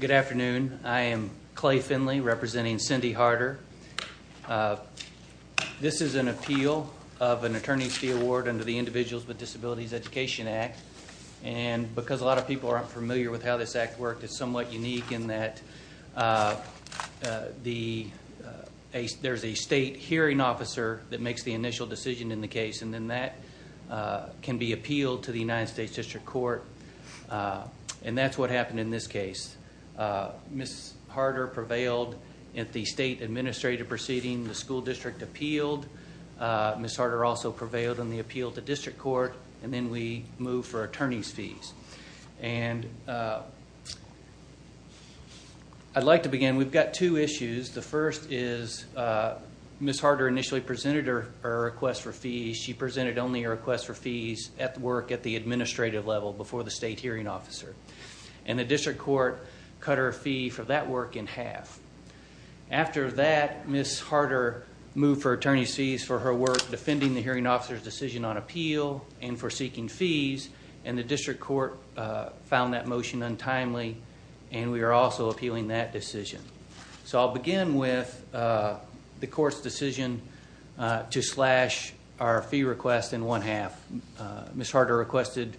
Good afternoon. I am Clay Finley representing Cyndi Harter. This is an appeal of an Attorney's Fee Award under the Individuals with Disabilities Education Act. And because a lot of people aren't familiar with how this act works, it's somewhat unique in that there's a state hearing officer that makes the initial decision in the case and then that can be appealed to the United States District Court. And that's what happened in this case. Ms. Harter prevailed at the state administrative proceeding. The school district appealed. Ms. Harter also prevailed in the appeal to district court. And then we moved for attorney's fees. And I'd like to begin. We've got two issues. The first is Ms. Harter initially presented her request for fees. She presented only her request for fees at work at the administrative level before the state hearing officer. And the district court cut her fee for that work in half. After that, Ms. Harter moved for attorney's fees for her work defending the hearing officer's decision on appeal and for seeking fees. And the district court found that motion untimely. And we are also appealing that decision. So I'll begin with the court's decision to slash our fee request in one half. Ms. Harter requested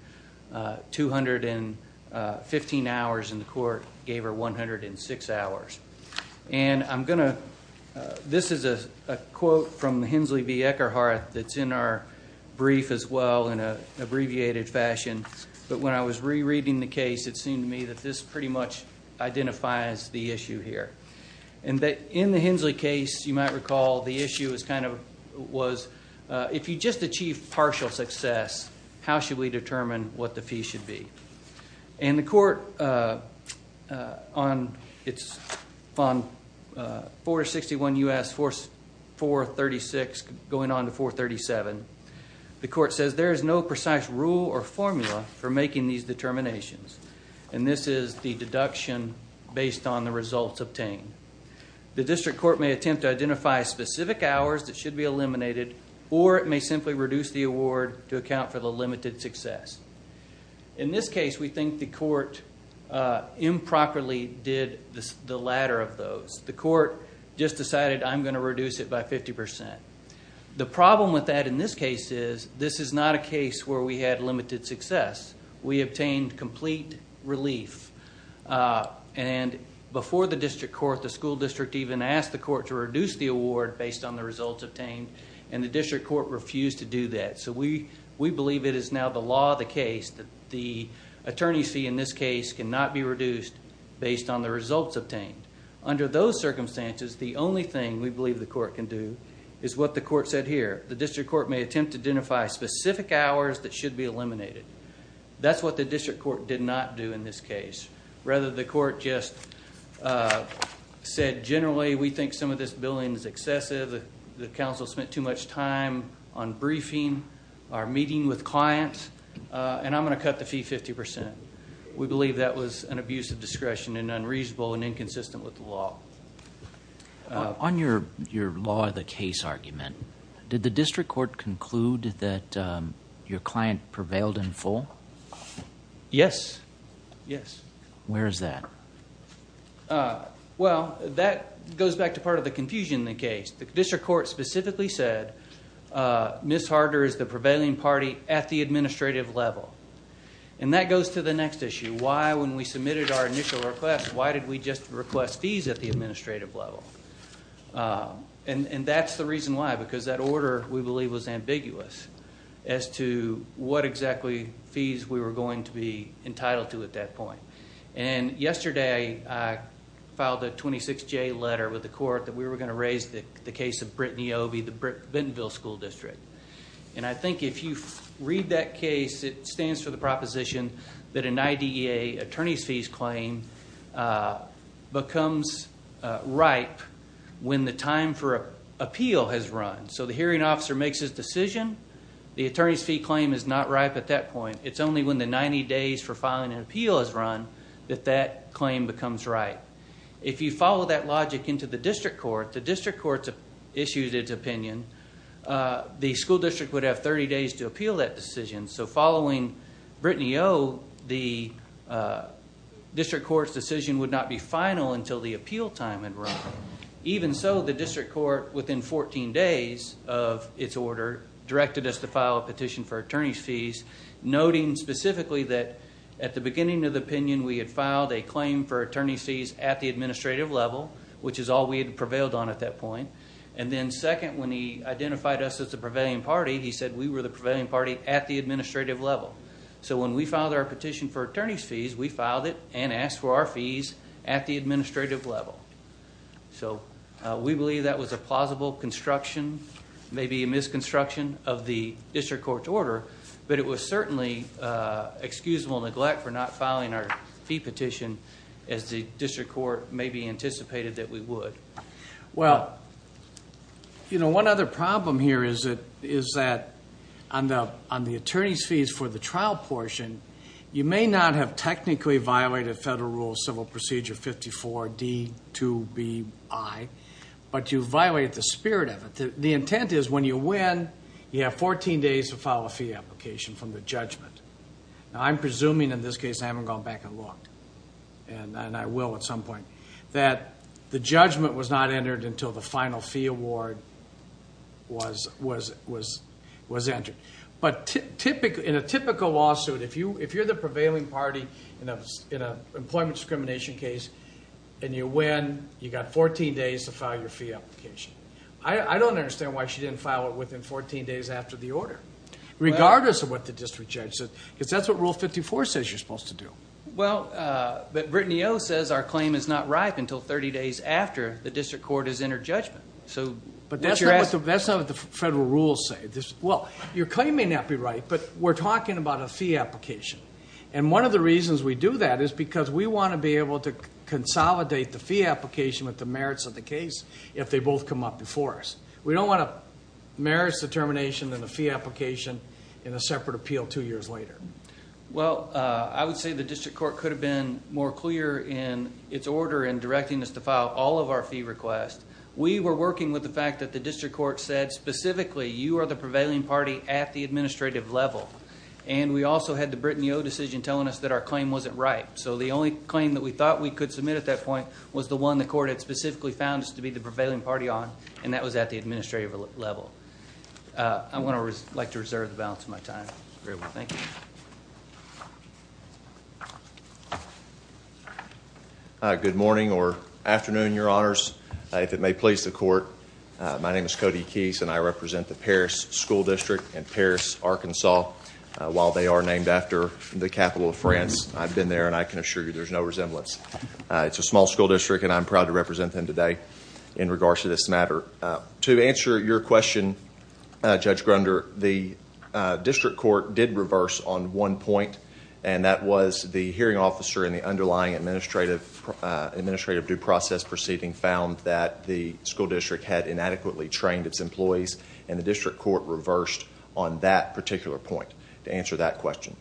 215 hours and the court gave her 106 hours. And I'm going to – this is a quote from Hensley B. Eckerhart that's in our brief as well in an abbreviated fashion. But when I was rereading the case, it seemed to me that this pretty much identifies the issue here. And in the Hensley case, you might recall, the issue was if you just achieve partial success, how should we determine what the fee should be? And the court on 461 U.S. 436 going on to 437, the court says there is no precise rule or formula for making these determinations. And this is the deduction based on the results obtained. The district court may attempt to identify specific hours that should be eliminated or it may simply reduce the award to account for the limited success. In this case, we think the court improperly did the latter of those. The court just decided, I'm going to reduce it by 50%. The problem with that in this case is this is not a case where we had limited success. We obtained complete relief. And before the district court, the school district even asked the court to reduce the award based on the results obtained. And the district court refused to do that. So we believe it is now the law of the case that the attorney's fee in this case cannot be reduced based on the results obtained. Under those circumstances, the only thing we believe the court can do is what the court said here. The district court may attempt to identify specific hours that should be eliminated. That's what the district court did not do in this case. Rather, the court just said generally we think some of this billing is excessive. The council spent too much time on briefing, our meeting with clients, and I'm going to cut the fee 50%. We believe that was an abuse of discretion and unreasonable and inconsistent with the law. On your law of the case argument, did the district court conclude that your client prevailed in full? Yes. Where is that? Well, that goes back to part of the confusion in the case. The district court specifically said Ms. Harder is the prevailing party at the administrative level. And that goes to the next issue. Why, when we submitted our initial request, why did we just request fees at the administrative level? And that's the reason why, because that order, we believe, was ambiguous as to what exactly fees we were going to be entitled to at that point. And yesterday, I filed a 26-J letter with the court that we were going to raise the case of Brittany Obey, the Bentonville School District. And I think if you read that case, it stands for the proposition that an IDEA attorney's fees claim becomes ripe when the time for appeal has run. So the hearing officer makes his decision. The attorney's fee claim is not ripe at that point. It's only when the 90 days for filing an appeal has run that that claim becomes ripe. If you follow that logic into the district court, the district court issues its opinion. The school district would have 30 days to appeal that decision. So following Brittany O, the district court's decision would not be final until the appeal time had run. Even so, the district court, within 14 days of its order, directed us to file a petition for attorney's fees, noting specifically that at the beginning of the opinion, we had filed a claim for attorney's fees at the administrative level, which is all we had prevailed on at that point. And then second, when he identified us as the prevailing party, he said we were the prevailing party at the administrative level. So when we filed our petition for attorney's fees, we filed it and asked for our fees at the administrative level. So we believe that was a plausible construction, maybe a misconstruction of the district court's order, but it was certainly excusable neglect for not filing our fee petition as the district court maybe anticipated that we would. Well, you know, one other problem here is that on the attorney's fees for the trial portion, you may not have technically violated Federal Rule of Civil Procedure 54D2BI, but you violated the spirit of it. The intent is when you win, you have 14 days to file a fee application from the judgment. Now, I'm presuming in this case I haven't gone back and looked, and I will at some point, that the judgment was not entered until the final fee award was entered. But in a typical lawsuit, if you're the prevailing party in an employment discrimination case and you win, you've got 14 days to file your fee application. I don't understand why she didn't file it within 14 days after the order, regardless of what the district judge said, because that's what Rule 54 says you're supposed to do. Well, Brittany O. says our claim is not ripe until 30 days after the district court has entered judgment. But that's not what the Federal Rules say. Well, your claim may not be right, but we're talking about a fee application. And one of the reasons we do that is because we want to be able to consolidate the fee application with the merits of the case if they both come up before us. We don't want a merits determination and a fee application in a separate appeal two years later. Well, I would say the district court could have been more clear in its order in directing us to file all of our fee requests. We were working with the fact that the district court said specifically you are the prevailing party at the administrative level. And we also had the Brittany O. decision telling us that our claim wasn't ripe. So the only claim that we thought we could submit at that point was the one the court had specifically found us to be the prevailing party on, and that was at the administrative level. I would like to reserve the balance of my time. Very well. Thank you. Good morning or afternoon, Your Honors. If it may please the court, my name is Cody Keyes, and I represent the Parris School District in Parris, Arkansas. While they are named after the capital of France, I've been there, and I can assure you there's no resemblance. It's a small school district, and I'm proud to represent them today in regards to this matter. To answer your question, Judge Grunder, the district court did reverse on one point, and that was the hearing officer in the underlying administrative due process proceeding found that the school district had inadequately trained its employees, and the district court reversed on that particular point to answer that question.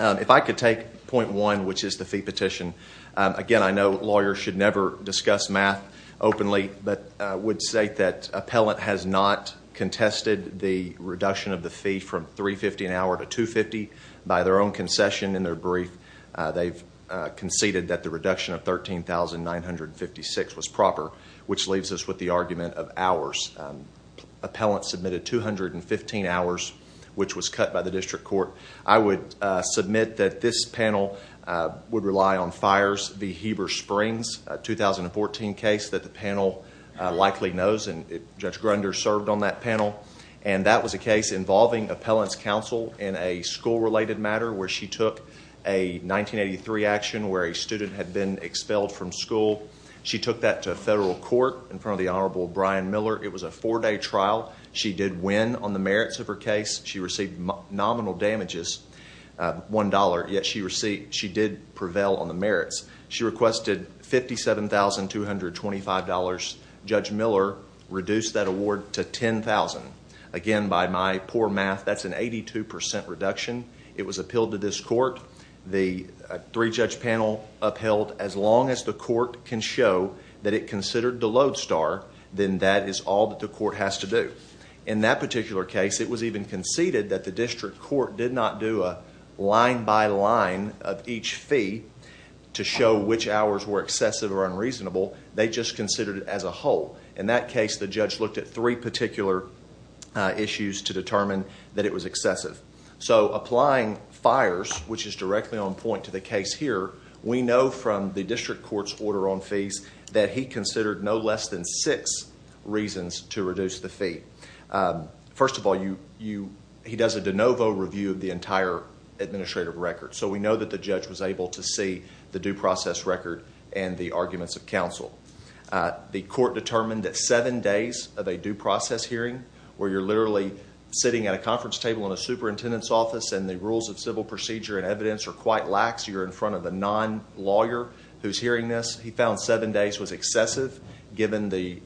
If I could take point one, which is the fee petition. Again, I know lawyers should never discuss math openly, but I would say that appellant has not contested the reduction of the fee from $350 an hour to $250. By their own concession in their brief, they've conceded that the reduction of $13,956 was proper, which leaves us with the argument of hours. Appellant submitted 215 hours, which was cut by the district court. I would submit that this panel would rely on fires. The Heber Springs 2014 case that the panel likely knows, and Judge Grunder served on that panel, and that was a case involving appellant's counsel in a school-related matter where she took a 1983 action where a student had been expelled from school. She took that to federal court in front of the Honorable Brian Miller. It was a four-day trial. She did win on the merits of her case. She received nominal damages, $1, yet she did prevail on the merits. She requested $57,225. Judge Miller reduced that award to $10,000. Again, by my poor math, that's an 82% reduction. It was appealed to this court. The three-judge panel upheld as long as the court can show that it considered the lodestar, then that is all that the court has to do. In that particular case, it was even conceded that the district court did not do a line-by-line of each fee to show which hours were excessive or unreasonable. They just considered it as a whole. In that case, the judge looked at three particular issues to determine that it was excessive. Applying fires, which is directly on point to the case here, we know from the district court's order on fees that he considered no less than six reasons to reduce the fee. First of all, he does a de novo review of the entire administrative record, so we know that the judge was able to see the due process record and the arguments of counsel. The court determined that seven days of a due process hearing, where you're literally sitting at a conference table in a superintendent's office and the rules of civil procedure and evidence are quite lax. You're in front of a non-lawyer who's hearing this. He found seven days was excessive given the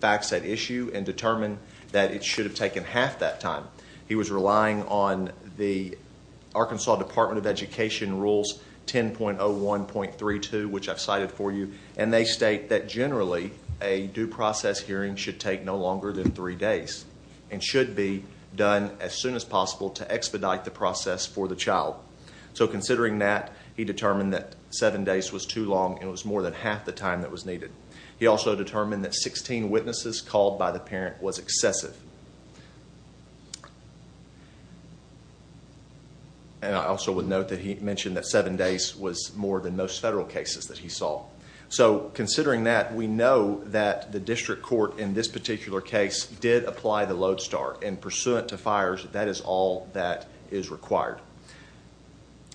facts at issue and determined that it should have taken half that time. He was relying on the Arkansas Department of Education rules 10.01.32, which I've cited for you, and they state that generally a due process hearing should take no longer than three days and should be done as soon as possible to expedite the process for the child. So considering that, he determined that seven days was too long, and it was more than half the time that was needed. He also determined that 16 witnesses called by the parent was excessive. And I also would note that he mentioned that seven days was more than most federal cases that he saw. So considering that, we know that the district court in this particular case did apply the load start, and pursuant to fires, that is all that is required.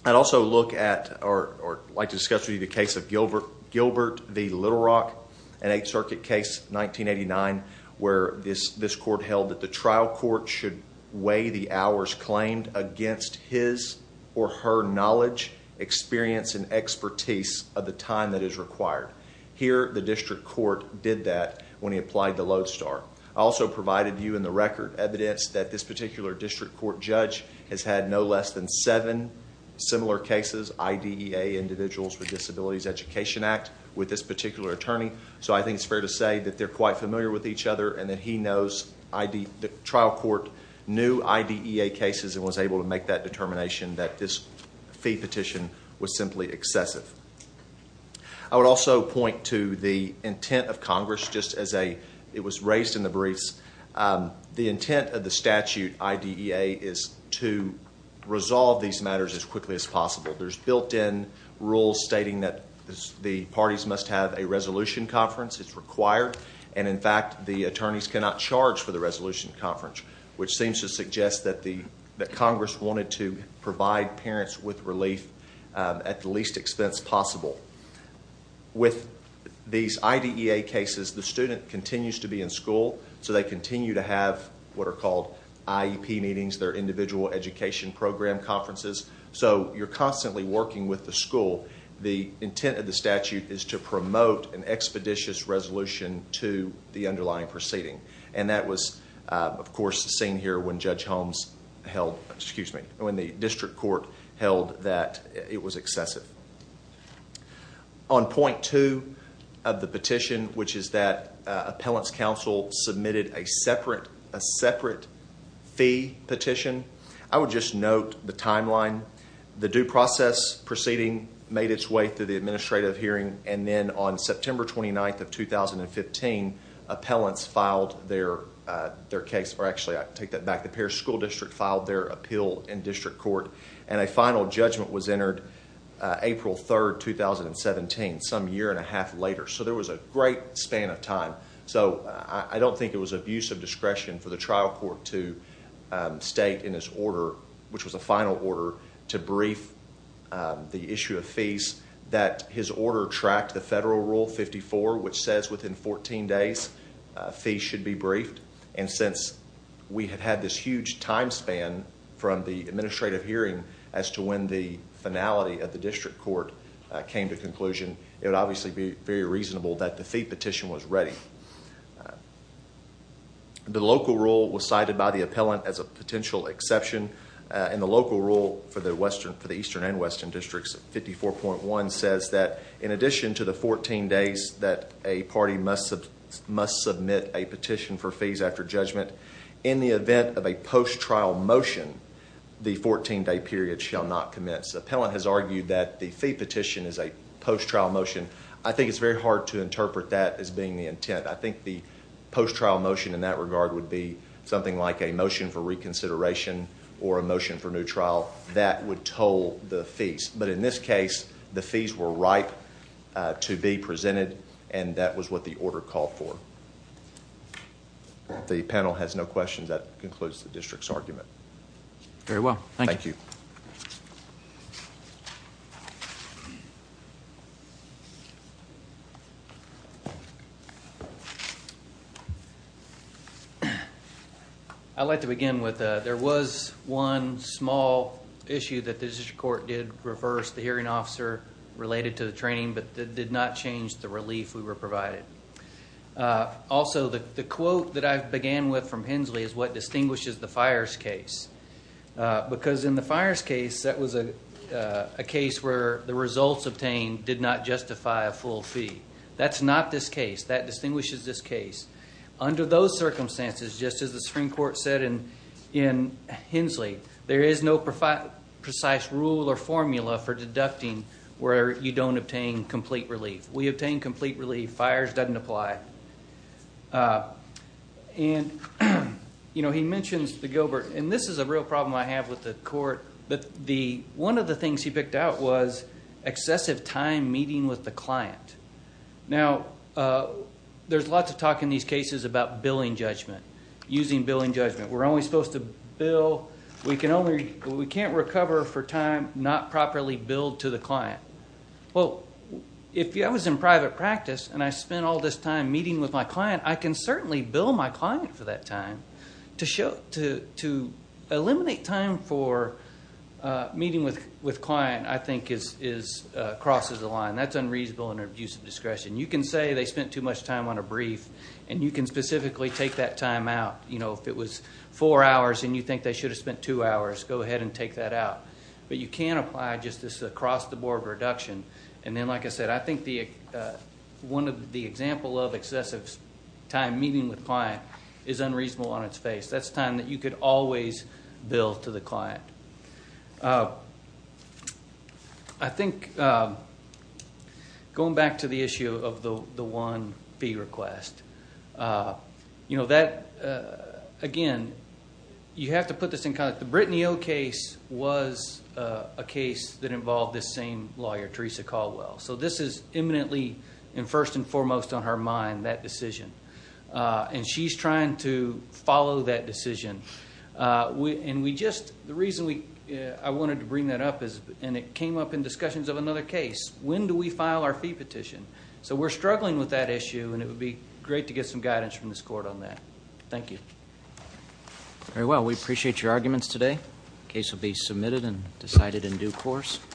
I'd also like to discuss with you the case of Gilbert v. Little Rock, an Eighth Circuit case, 1989, where this court held that the trial court should weigh the hours claimed against his or her knowledge, experience, and expertise of the time that is required. Here, the district court did that when he applied the load start. I also provided you in the record evidence that this particular district court judge has had no less than seven similar cases, IDEA, Individuals with Disabilities Education Act, with this particular attorney. So I think it's fair to say that they're quite familiar with each other and that he knows the trial court knew IDEA cases and was able to make that determination that this fee petition was simply excessive. I would also point to the intent of Congress, just as it was raised in the briefs. The intent of the statute, IDEA, is to resolve these matters as quickly as possible. There's built-in rules stating that the parties must have a resolution conference. It's required, and in fact, the attorneys cannot charge for the resolution conference, which seems to suggest that Congress wanted to provide parents with relief at the least expense possible. With these IDEA cases, the student continues to be in school, so they continue to have what are called IEP meetings, their Individual Education Program conferences. So you're constantly working with the school. The intent of the statute is to promote an expeditious resolution to the underlying proceeding, and that was, of course, seen here when Judge Holmes held, excuse me, when the district court held that it was excessive. On point two of the petition, which is that appellants counsel submitted a separate fee petition, I would just note the timeline. The due process proceeding made its way through the administrative hearing, and then on September 29th of 2015, appellants filed their case. Actually, I take that back. The Pierce School District filed their appeal in district court, and a final judgment was entered April 3rd, 2017, some year and a half later. So there was a great span of time. So I don't think it was abuse of discretion for the trial court to state in its order, which was a final order, to brief the issue of fees, that his order tracked the federal rule 54, which says within 14 days fees should be briefed. And since we had had this huge time span from the administrative hearing as to when the finality of the district court came to conclusion, it would obviously be very reasonable that the fee petition was ready. The local rule was cited by the appellant as a potential exception, and the local rule for the eastern and western districts, 54.1, says that in addition to the 14 days that a party must submit a petition for fees after judgment, in the event of a post-trial motion, the 14-day period shall not commence. The appellant has argued that the fee petition is a post-trial motion. I think it's very hard to interpret that as being the intent. I think the post-trial motion in that regard would be something like a motion for reconsideration or a motion for new trial that would toll the fees. But in this case, the fees were ripe to be presented, and that was what the order called for. If the panel has no questions, that concludes the district's argument. Very well. Thank you. I'd like to begin with there was one small issue that the district court did reverse, the hearing officer related to the training, but that did not change the relief we were provided. Also, the quote that I began with from Hensley is what distinguishes the fires case. Because in the fires case, that was a case where the results obtained did not justify a full fee. That's not this case. That distinguishes this case. Under those circumstances, just as the Supreme Court said in Hensley, there is no precise rule or formula for deducting where you don't obtain complete relief. We obtain complete relief. Fires doesn't apply. He mentions the Gilbert, and this is a real problem I have with the court. One of the things he picked out was excessive time meeting with the client. Now, there's lots of talk in these cases about billing judgment, using billing judgment. We're only supposed to bill. We can't recover for time not properly billed to the client. Well, if I was in private practice and I spent all this time meeting with my client, I can certainly bill my client for that time. To eliminate time for meeting with client, I think, crosses the line. That's unreasonable and an abuse of discretion. You can say they spent too much time on a brief, and you can specifically take that time out. If it was four hours and you think they should have spent two hours, go ahead and take that out. But you can apply just this across-the-board reduction. And then, like I said, I think the example of excessive time meeting with client is unreasonable on its face. That's time that you could always bill to the client. I think going back to the issue of the one fee request, again, you have to put this in context. The Brittany O case was a case that involved this same lawyer, Teresa Caldwell. This is imminently and first and foremost on her mind, that decision. She's trying to follow that decision. The reason I wanted to bring that up is it came up in discussions of another case. When do we file our fee petition? We're struggling with that issue, and it would be great to get some guidance from this court on that. Thank you. Very well. We appreciate your arguments today. The case will be submitted and decided in due course.